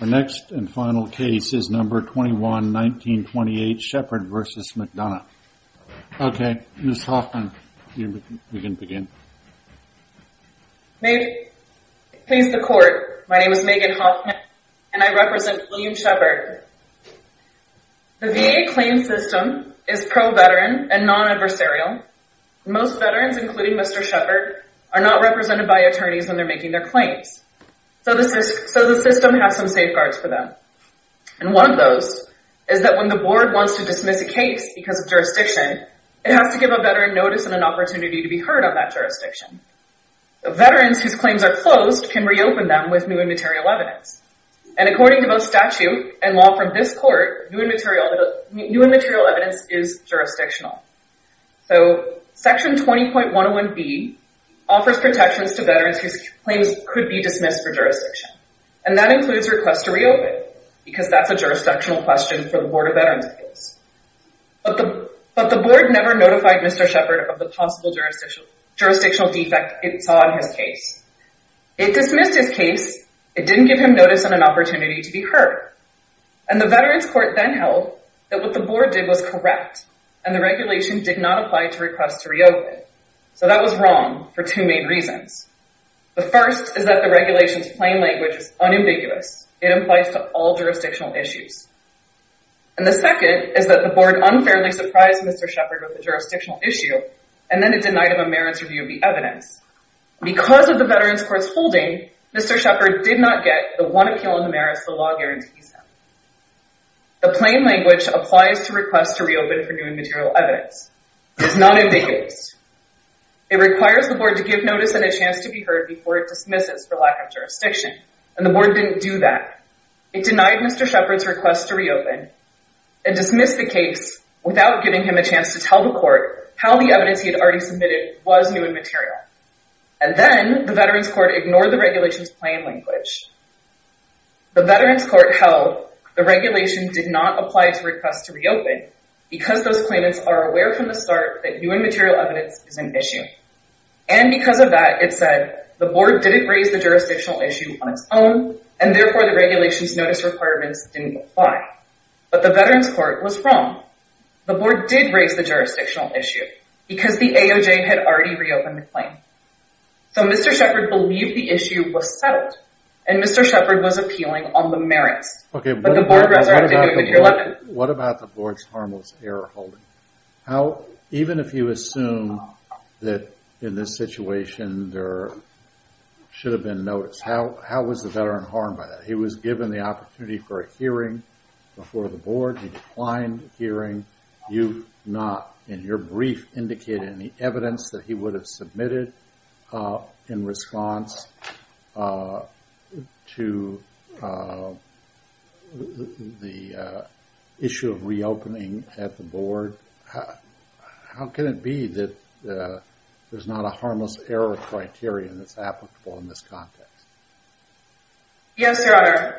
The next and final case is number 21-1928 Sheppard v. McDonough. Okay, Ms. Hoffman, you can begin. May it please the Court, my name is Megan Hoffman and I represent William Sheppard. The VA claim system is pro-veteran and non-adversarial. Most veterans, including Mr. Sheppard, are not represented by attorneys when they're making their claims. So the system has some safeguards for them. And one of those is that when the Board wants to dismiss a case because of jurisdiction, it has to give a veteran notice and an opportunity to be heard on that jurisdiction. Veterans whose claims are closed can reopen them with new and material evidence. And according to both statute and law from this Court, new and material evidence is jurisdictional. So Section 20.101B offers protections to veterans whose claims could be dismissed for jurisdiction. And that includes request to reopen because that's a jurisdictional question for the Board of Veterans Appeals. But the Board never notified Mr. Sheppard of the possible jurisdictional defect it saw in his case. It dismissed his case. It didn't give him notice and an opportunity to be heard. And the Veterans Court then held that what the Board did was correct, and the regulation did not apply to request to reopen. So that was wrong for two main reasons. The first is that the regulation's plain language is unambiguous. It applies to all jurisdictional issues. And the second is that the Board unfairly surprised Mr. Sheppard with the jurisdictional issue, and then it denied him a merits review of the evidence. Because of the Veterans Court's holding, Mr. Sheppard did not get the one appeal on the merits the law guarantees him. The plain language applies to request to reopen for new and material evidence. It is not ambiguous. It requires the Board to give notice and a chance to be heard before it dismisses for lack of jurisdiction. And the Board didn't do that. It denied Mr. Sheppard's request to reopen and dismissed the case without giving him a chance to tell the Court how the evidence he had already submitted was new and material. And then the Veterans Court ignored the regulation's plain language. The Veterans Court held the regulation did not apply to request to reopen because those claimants are aware from the start that new and material evidence is an issue. And because of that, it said the Board didn't raise the jurisdictional issue on its own, and therefore the regulation's notice requirements didn't apply. But the Veterans Court was wrong. The Board did raise the jurisdictional issue because the AOJ had already reopened the claim. So Mr. Sheppard believed the issue was settled, and Mr. Sheppard was appealing on the merits. Okay, what about the Board's harmless error holding? Even if you assume that in this situation there should have been notice, how was the Veteran harmed by that? He was given the opportunity for a hearing before the Board. He declined the hearing. You've not, in your brief, indicated any evidence that he would have submitted in response to the issue of reopening at the Board. How can it be that there's not a harmless error criterion that's applicable in this context? Yes, Your Honor.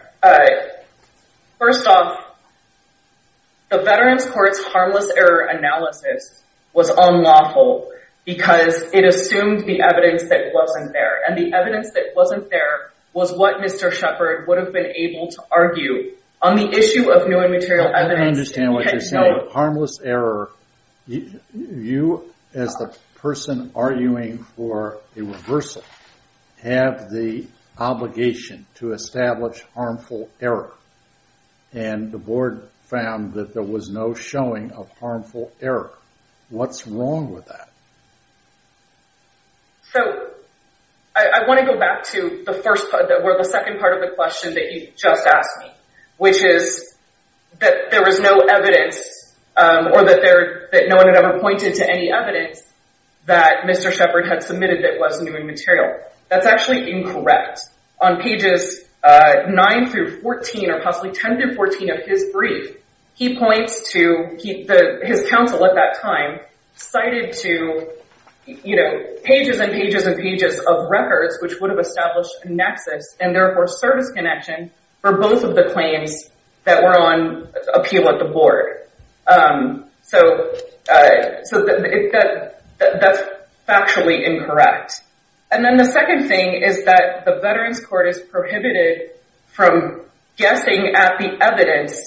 First off, the Veterans Court's harmless error analysis was unlawful because it assumed the evidence that wasn't there. And the evidence that wasn't there was what Mr. Sheppard would have been able to argue. On the issue of new and material evidence- I don't understand what you're saying. On harmless error, you, as the person arguing for a reversal, have the obligation to establish harmful error. And the Board found that there was no showing of harmful error. What's wrong with that? So, I want to go back to the second part of the question that you just asked me, which is that there was no evidence, or that no one had ever pointed to any evidence, that Mr. Sheppard had submitted that was new and material. That's actually incorrect. On pages 9-14, or possibly 10-14 of his brief, he points to- his counsel at that time cited to, you know, pages and pages and pages of records which would have established a nexus, and therefore service connection, for both of the claims that were on appeal at the Board. So, that's factually incorrect. And then the second thing is that the Veterans Court is prohibited from guessing at the evidence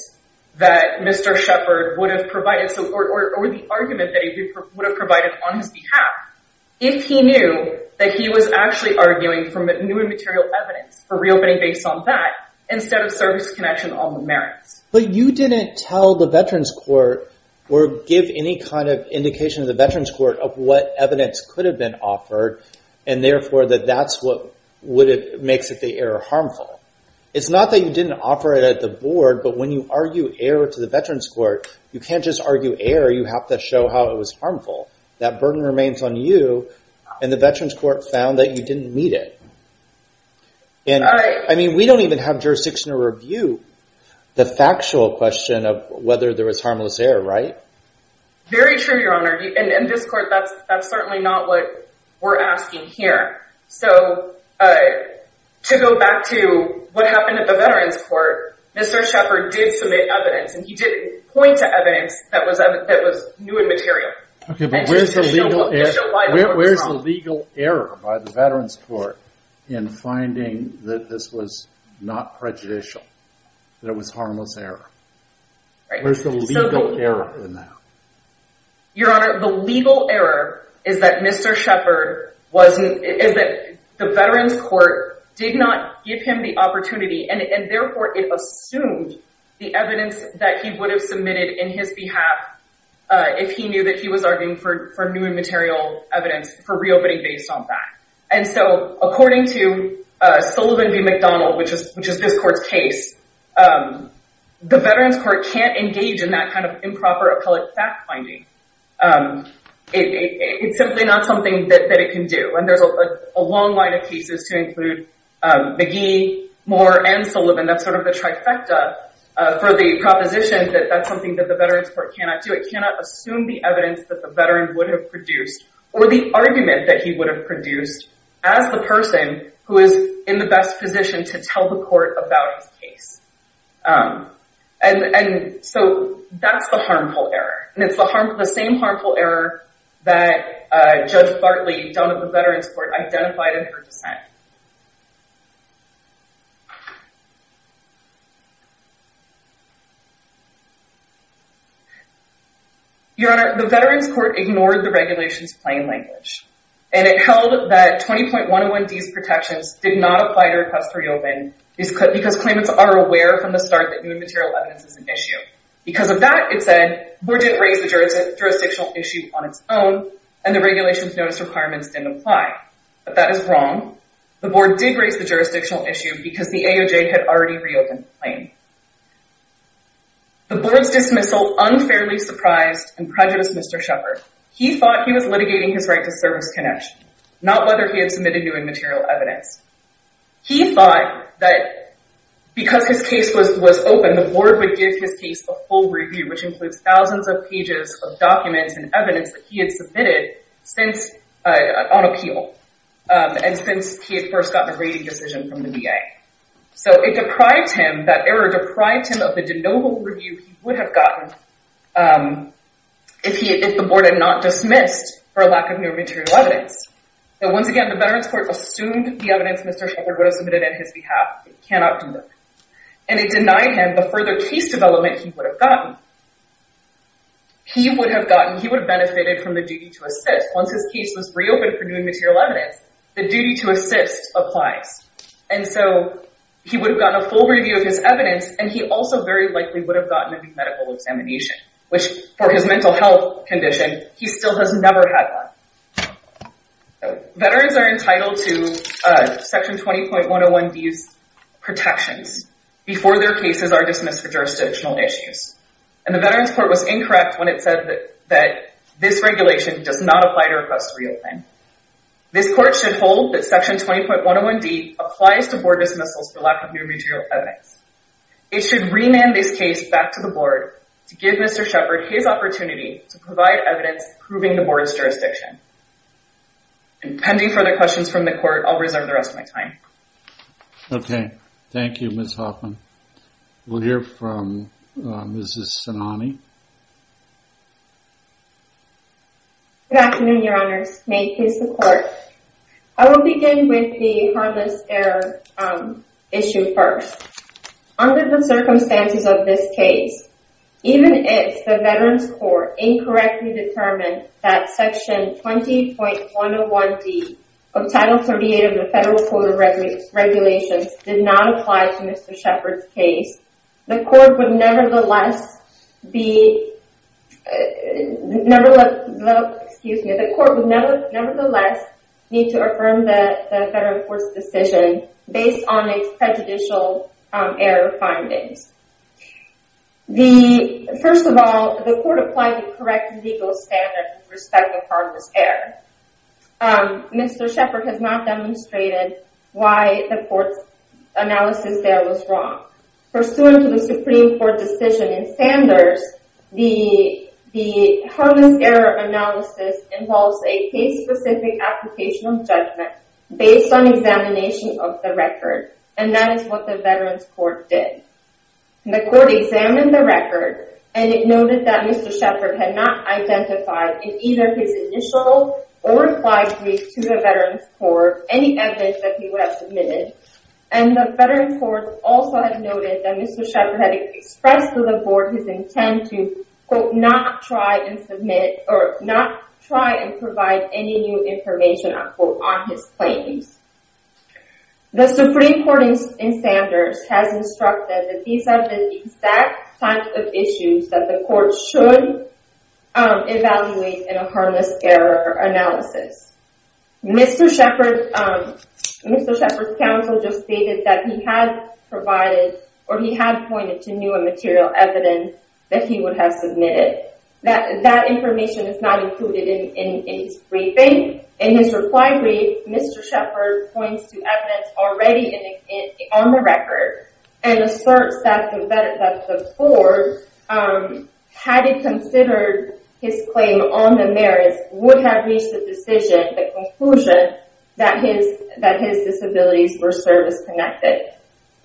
that Mr. Sheppard would have provided, or the argument that he would have provided on his behalf, if he knew that he was actually arguing for new and material evidence, for reopening based on that, instead of service connection on the merits. But you didn't tell the Veterans Court, or give any kind of indication to the Veterans Court, of what evidence could have been offered, and therefore that that's what makes the error harmful. It's not that you didn't offer it at the Board, but when you argue error to the Veterans Court, you can't just argue error, you have to show how it was harmful. That burden remains on you, and the Veterans Court found that you didn't meet it. I mean, we don't even have jurisdiction to review the factual question of whether there was harmless error, right? Very true, Your Honor, and in this court, that's certainly not what we're asking here. So, to go back to what happened at the Veterans Court, Mr. Sheppard did submit evidence, and he did point to evidence that was new and material. Okay, but where's the legal error by the Veterans Court in finding that this was not prejudicial, that it was harmless error? Where's the legal error in that? Your Honor, the legal error is that Mr. Sheppard wasn't, is that the Veterans Court did not give him the opportunity, and therefore it assumed the evidence that he would have submitted in his behalf if he knew that he was arguing for new and material evidence for reopening based on that. And so, according to Sullivan v. McDonald, which is this court's case, the Veterans Court can't engage in that kind of improper appellate fact-finding. It's simply not something that it can do, and there's a long line of cases to include McGee, Moore, and Sullivan. That's sort of the trifecta for the proposition that that's something that the Veterans Court cannot do. It cannot assume the evidence that the veteran would have produced or the argument that he would have produced as the person who is in the best position to tell the court about his case. And so, that's the harmful error, and it's the same harmful error that Judge Bartley, down at the Veterans Court, identified in her dissent. Your Honor, the Veterans Court ignored the regulation's plain language, and it held that 20.101D's protections did not apply to request reopening because claimants are aware from the start that new and material evidence is an issue. Because of that, it said, the board didn't raise the jurisdictional issue on its own, and the regulation's notice requirements didn't apply. But that is wrong. The board did raise the jurisdictional issue because the AOJ had already reopened the claim. The board's dismissal unfairly surprised and prejudiced Mr. Shepard. He thought he was litigating his right to service connection, not whether he had submitted new and material evidence. He thought that because his case was open, the board would give his case a full review, which includes thousands of pages of documents and evidence that he had submitted on appeal, and since he had first gotten a rating decision from the VA. So, it deprived him, that error deprived him of the de novo review he would have gotten if the board had not dismissed for lack of new and material evidence. And once again, the Veterans Court assumed the evidence Mr. Shepard would have submitted on his behalf. It cannot do that. And it denied him the further case development he would have gotten. He would have benefited from the duty to assist. Once his case was reopened for new and material evidence, the duty to assist applies. And so, he would have gotten a full review of his evidence, and he also very likely would have gotten a new medical examination, which, for his mental health condition, he still has never had one. Veterans are entitled to Section 20.101D's protections before their cases are dismissed for jurisdictional issues. And the Veterans Court was incorrect when it said that this regulation does not apply to requests reopened. This court should hold that Section 20.101D applies to board dismissals for lack of new and material evidence. It should remand this case back to the board to give Mr. Shepard his opportunity to provide evidence proving the board's jurisdiction. And pending further questions from the court, I'll reserve the rest of my time. Okay. Thank you, Ms. Hoffman. We'll hear from Mrs. Sinani. Good afternoon, Your Honors. May it please the Court. I will begin with the harmless error issue first. Under the circumstances of this case, even if the Veterans Court incorrectly determined that Section 20.101D of Title 38 of the Federal Code of Regulations did not apply to Mr. Shepard's case, the Court would nevertheless need to affirm the Federal Court's decision based on its prejudicial error findings. First of all, the Court applied the correct legal standard with respect to harmless error. Mr. Shepard has not demonstrated why the Court's analysis there was wrong. Pursuant to the Supreme Court decision in Sanders, the harmless error analysis involves a case-specific application of judgment based on examination of the record. And that is what the Veterans Court did. The Court examined the record and it noted that Mr. Shepard had not identified in either his initial or replied brief to the Veterans Court any evidence that he would have submitted. And the Veterans Court also had noted that Mr. Shepard had expressed to the Board his intent to quote, not try and submit or not try and provide any new information, unquote, on his claims. The Supreme Court in Sanders has instructed that these are the exact types of issues that the Court should evaluate in a harmless error analysis. Mr. Shepard's counsel just stated that he had provided or he had pointed to new and material evidence that he would have submitted. That information is not included in his briefing. In his reply brief, Mr. Shepard points to evidence already on the record and asserts that the Board, had it considered his claim on the merits, would have reached a decision, the conclusion, that his disabilities were service-connected.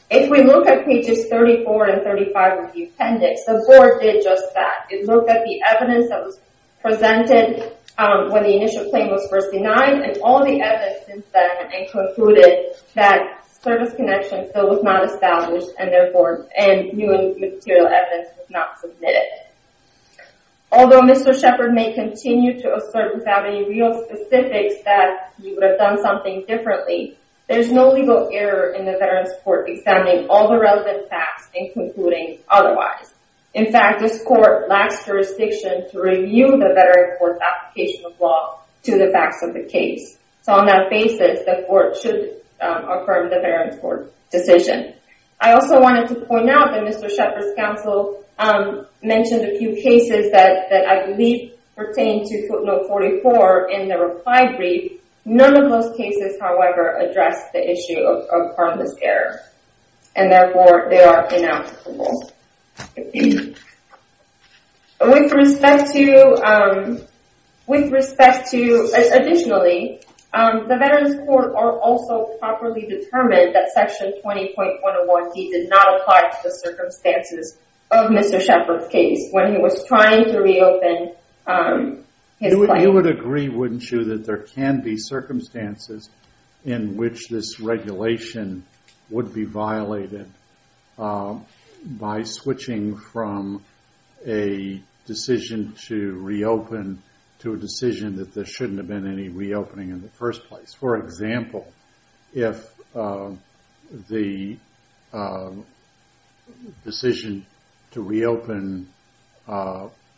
If we look at pages 34 and 35 of the appendix, the Board did just that. It looked at the evidence that was presented when the initial claim was first denied and all the evidence since then and concluded that service-connection still was not established and new and material evidence was not submitted. Although Mr. Shepard may continue to assert without any real specifics that he would have done something differently, there is no legal error in the Veterans Court examining all the relevant facts and concluding otherwise. In fact, this Court lacks jurisdiction to review the Veterans Court's application of law to the facts of the case. So, on that basis, the Court should affirm the Veterans Court's decision. I also wanted to point out that Mr. Shepard's counsel mentioned a few cases that I believe pertain to footnote 44 in the reply brief. None of those cases, however, address the issue of harmless error and therefore they are ineligible. Additionally, the Veterans Court also properly determined that Section 20.101D did not apply to the circumstances of Mr. Shepard's case when he was trying to reopen his claim. I would agree, wouldn't you, that there can be circumstances in which this regulation would be violated by switching from a decision to reopen to a decision that there shouldn't have been any reopening in the first place. For example, if the decision to reopen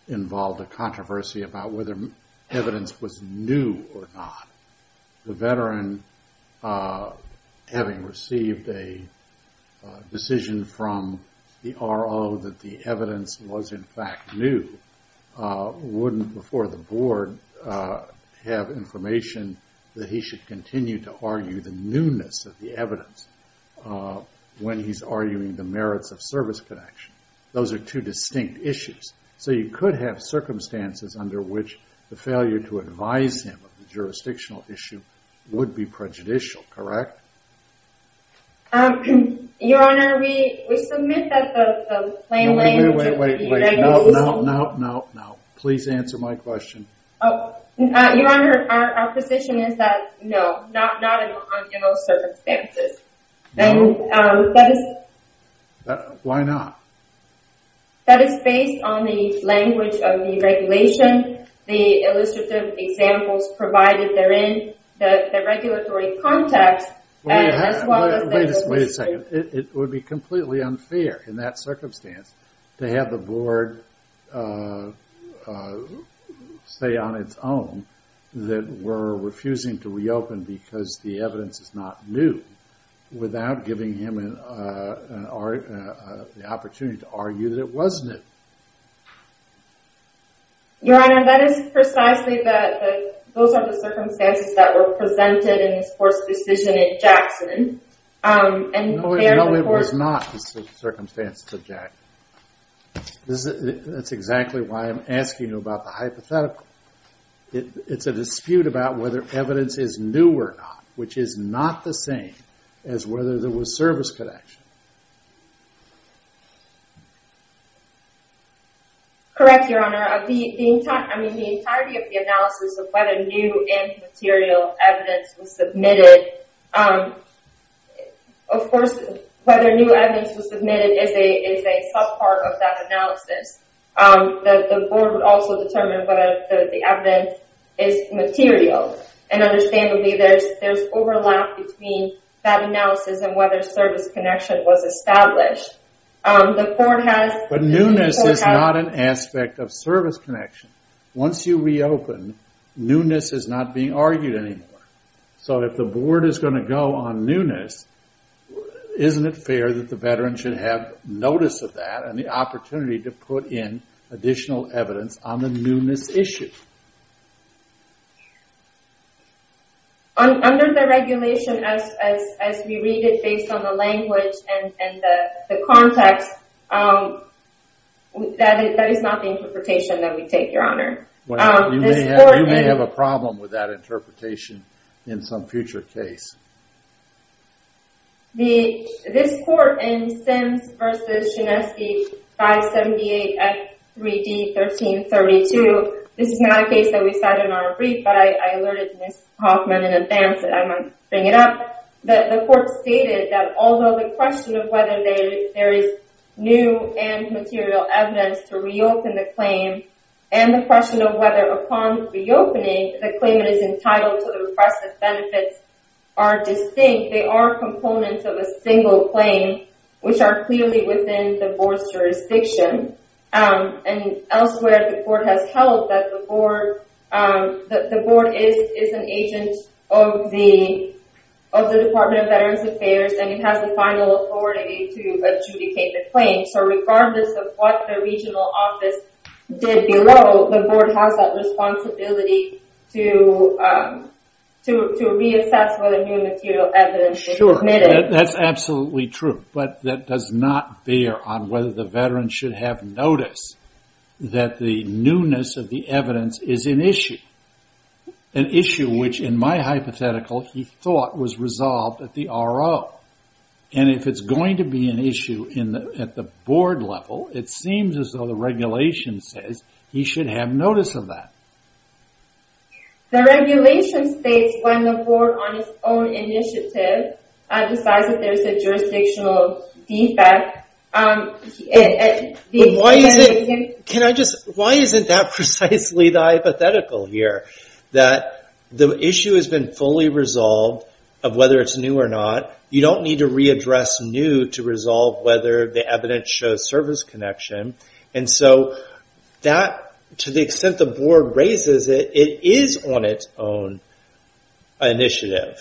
involved a controversy about whether evidence was new or not, the veteran, having received a decision from the RO that the evidence was in fact new, wouldn't, before the Board, have information that he should continue to argue the newness of the evidence when he's arguing the merits of service connection. Those are two distinct issues. So, you could have circumstances under which the failure to advise him of the jurisdictional issue would be prejudicial, correct? Your Honor, we submit that the plain language... Wait, wait, wait, no, no, no, no. Please answer my question. Your Honor, our position is that no, not in those circumstances. No? That is... Why not? That is based on the language of the regulation, the illustrative examples provided therein, the regulatory context, as well as... Wait a second. It would be completely unfair in that circumstance to have the Board say on its own that we're refusing to reopen because the evidence is not new, without giving him the opportunity to argue that it was new. Your Honor, that is precisely that those are the circumstances that were presented in this Court's decision in Jackson. No, it was not the circumstances of Jackson. That's exactly why I'm asking you about the hypothetical. It's a dispute about whether evidence is new or not, which is not the same as whether there was service connection. Correct, Your Honor. The entirety of the analysis of whether new and material evidence was submitted... Of course, whether new evidence was submitted is a sub-part of that analysis. The Board would also determine whether the evidence is material. And understandably, there's overlap between that analysis and whether service connection was established. The Court has... But newness is not an aspect of service connection. Once you reopen, newness is not being argued anymore. So, if the Board is going to go on newness, isn't it fair that the veteran should have notice of that and the opportunity to put in additional evidence on the newness issue? Under the regulation, as we read it based on the language and the context, that is not the interpretation that we take, Your Honor. You may have a problem with that interpretation in some future case. This Court in Sims v. Chinesky 578 F3D 1332, this is not a case that we cited in our brief, but I alerted Ms. Hoffman in advance that I might bring it up. The Court stated that although the question of whether there is new and material evidence to reopen the claim and the question of whether upon reopening, the claimant is entitled to the requested benefits are distinct. They are components of a single claim, which are clearly within the Board's jurisdiction. And elsewhere, the Board has held that the Board is an agent of the Department of Veterans Affairs and it has the final authority to adjudicate the claim. So regardless of what the regional office did below, the Board has that responsibility to reassess whether new material evidence is admitted. That's absolutely true, but that does not bear on whether the veteran should have notice that the newness of the evidence is an issue. An issue which in my hypothetical, he thought was resolved at the RO. And if it's going to be an issue at the Board level, it seems as though the regulation says he should have notice of that. The regulation states when the Board on its own initiative decides that there is a jurisdictional defect... Can I just... Why isn't that precisely the hypothetical here? That the issue has been fully resolved of whether it's new or not. You don't need to readdress new to resolve whether the evidence shows service connection. And so that, to the extent the Board raises it, it is on its own initiative.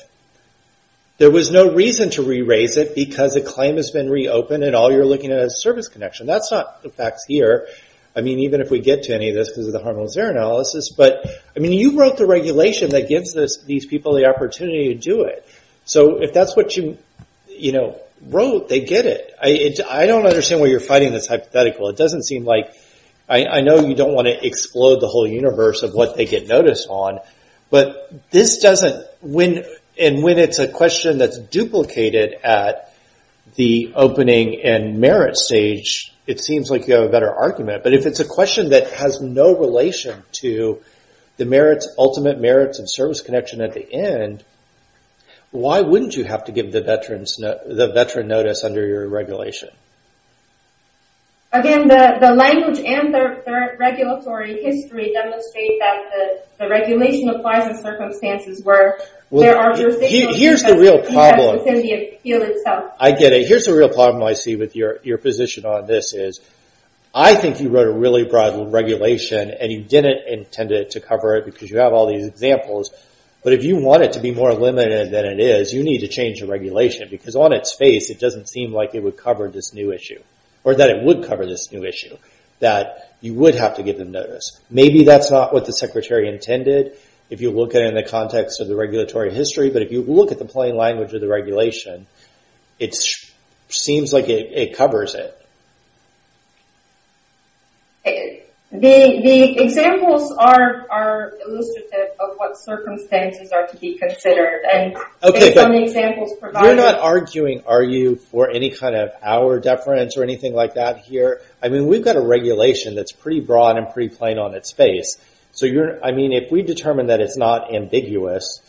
There was no reason to re-raise it because a claim has been reopened and all you're looking at is service connection. That's not the facts here. I mean, even if we get to any of this, because of the harmless error analysis. But you wrote the regulation that gives these people the opportunity to do it. So if that's what you wrote, they get it. I don't understand why you're finding this hypothetical. It doesn't seem like... I know you don't want to explode the whole universe of what they get notice on. But this doesn't... And when it's a question that's duplicated at the opening and merit stage, it seems like you have a better argument. But if it's a question that has no relation to the ultimate merits and service connection at the end, why wouldn't you have to give the veteran notice under your regulation? Again, the language and the regulatory history demonstrate that the regulation applies in circumstances where there are jurisdictions... Here's the real problem. I get it. Here's the real problem I see with your position on this is I think you wrote a really broad regulation and you didn't intend to cover it because you have all these examples. But if you want it to be more limited than it is, you need to change the regulation. Because on its face, it doesn't seem like it would cover this new issue. Or that it would cover this new issue. That you would have to give them notice. Maybe that's not what the Secretary intended, if you look at it in the context of the regulatory history. But if you look at the plain language of the regulation, it seems like it covers it. The examples are illustrative of what circumstances are to be considered. Based on the examples provided... You're not arguing, are you, for any kind of hour deference or anything like that here. We've got a regulation that's pretty broad and pretty plain on its face. If we determine that it's not ambiguous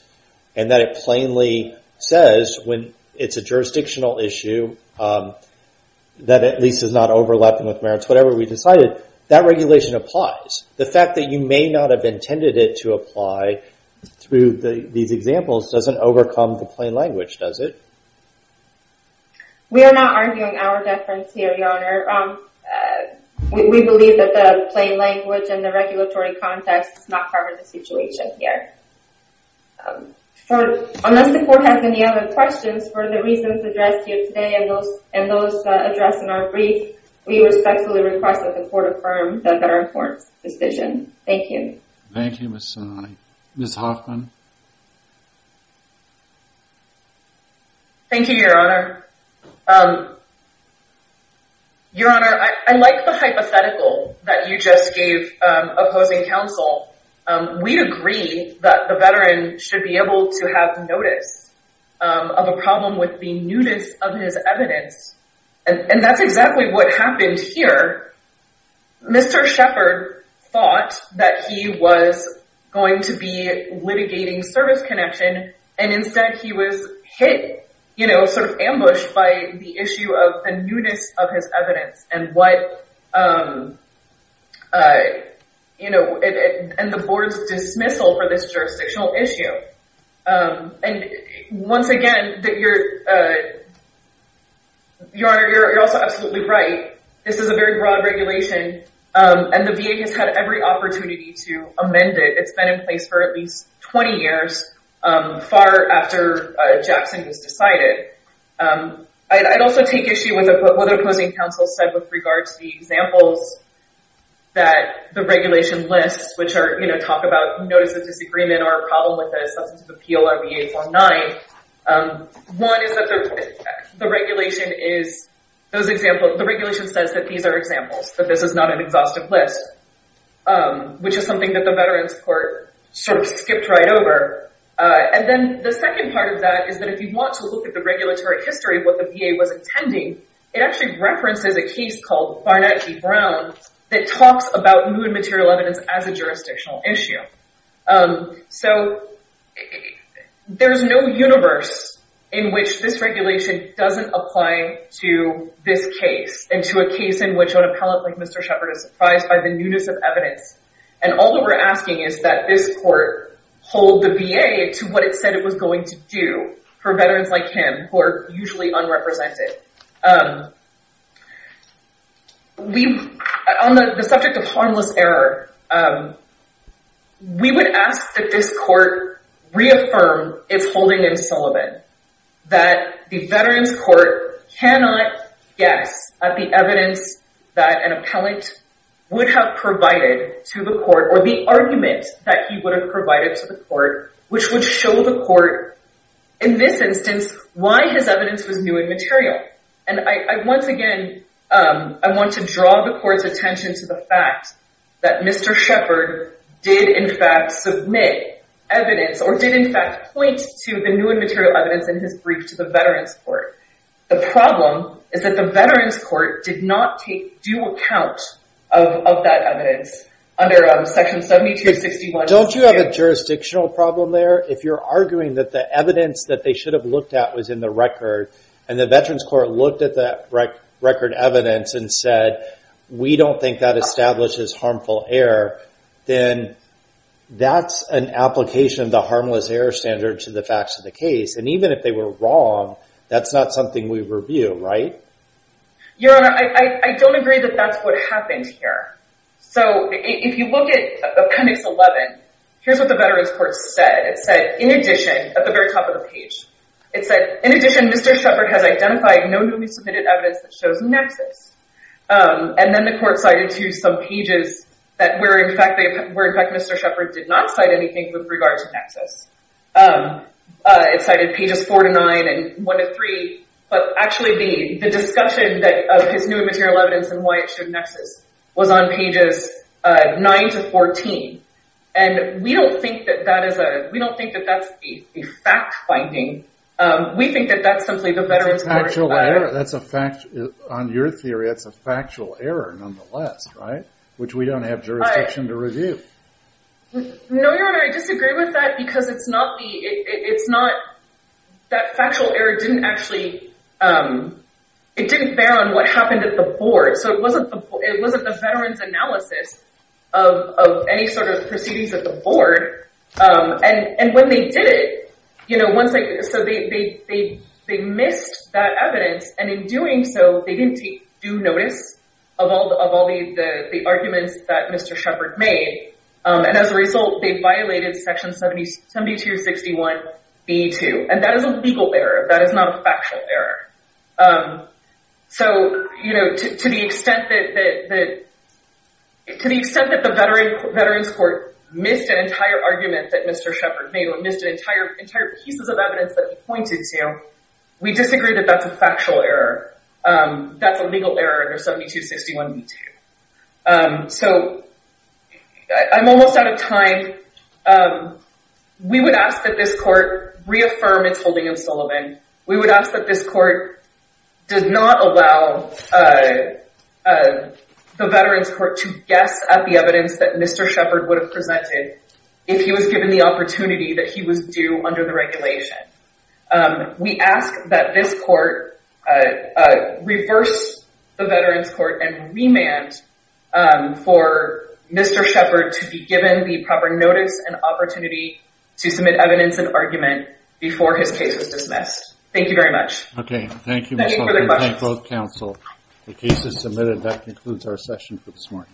and that it plainly says when it's a jurisdictional issue that at least it's not overlapping with merits, whatever we decided, that regulation applies. The fact that you may not have intended it to apply through these examples doesn't overcome the plain language, does it? We are not arguing hour deference here, Your Honor. We believe that the plain language and the regulatory context does not cover the situation here. Unless the Court has any other questions, for the reasons addressed here today and those addressed in our brief, we respectfully request that the Court affirm the Veterans' Court's decision. Thank you. Thank you, Ms. Sononi. Ms. Hoffman? Thank you, Your Honor. Your Honor, I like the hypothetical that you just gave opposing counsel. We agree that the veteran should be able to have notice of a problem with the nudist of his evidence, and that's exactly what happened here. Mr. Shepard thought that he was going to be litigating service connection and instead he was hit, you know, sort of ambushed by the issue of the nudist of his evidence and the Board's dismissal for this jurisdictional issue. And once again, Your Honor, you're also absolutely right. This is a very broad regulation, and the VA has had every opportunity to amend it. It's been in place for at least 20 years, far after Jackson was decided. I'd also take issue with what the opposing counsel said with regard to the examples that the regulation lists, which are, you know, talk about notice of disagreement or a problem with a substantive appeal on VA 49. One is that the regulation is those examples. The regulation says that these are examples, that this is not an exhaustive list, which is something that the Veterans Court sort of skipped right over. And then the second part of that is that if you want to look at the regulatory history of what the VA was intending, it actually references a case called Barnett v. Brown that talks about nude material evidence as a jurisdictional issue. So there's no universe in which this regulation doesn't apply to this case and to a case in which an appellate like Mr. Shepard is surprised by the nudist of evidence. And all that we're asking is that this court hold the VA to what it said it was going to do for veterans like him who are usually unrepresented. On the subject of harmless error, we would ask that this court reaffirm its holding in Sullivan, that the Veterans Court cannot guess at the evidence that an appellate would have provided to the court or the argument that he would have provided to the court, which would show the court in this instance why his evidence was nude material. And once again, I want to draw the court's attention to the fact that Mr. Shepard did in fact submit evidence or did in fact point to the nude material evidence in his brief to the Veterans Court. The problem is that the Veterans Court did not take due account of that evidence under Section 7261. Don't you have a jurisdictional problem there? If you're arguing that the evidence that they should have looked at was in the record and the Veterans Court looked at that record evidence and said, we don't think that establishes harmful error, then that's an application of the harmless error standard to the facts of the case. And even if they were wrong, that's not something we review, right? Your Honor, I don't agree that that's what happened here. So if you look at appendix 11, here's what the Veterans Court said. It said, in addition, at the very top of the page, it said, in addition, Mr. Shepard has identified no newly submitted evidence that shows nexus. And then the court cited to some pages where in fact Mr. Shepard did not cite anything with regard to nexus. It cited pages 4 to 9 and 1 to 3. But actually the discussion of his new material evidence and why it should nexus was on pages 9 to 14. And we don't think that that's a fact finding. We think that that's simply the Veterans Court's error. That's a fact. On your theory, that's a factual error nonetheless, right? Which we don't have jurisdiction to review. No, Your Honor. I disagree with that because it's not the – it's not that factual error didn't actually – it didn't bear on what happened at the board. So it wasn't the veterans' analysis of any sort of proceedings at the board. And when they did it, you know, once they – so they missed that evidence, and in doing so, they didn't take due notice of all the arguments that Mr. Shepard made. And as a result, they violated Section 7261B2. And that is a legal error. That is not a factual error. So, you know, to the extent that the Veterans Court missed an entire argument that Mr. Shepard made or missed entire pieces of evidence that he pointed to, we disagree that that's a factual error. That's a legal error under 7261B2. So I'm almost out of time. We would ask that this court reaffirm its holding of Sullivan. We would ask that this court does not allow the Veterans Court to guess at the evidence that Mr. Shepard would have presented if he was given the opportunity that he was due under the regulation. We ask that this court reverse the Veterans Court and remand for Mr. Shepard to be given the proper notice and opportunity to submit evidence and argument before his case is dismissed. Thank you very much. Okay. Thank you, Michelle. Thank you for the questions. We thank both counsel. The case is submitted. That concludes our session for this morning.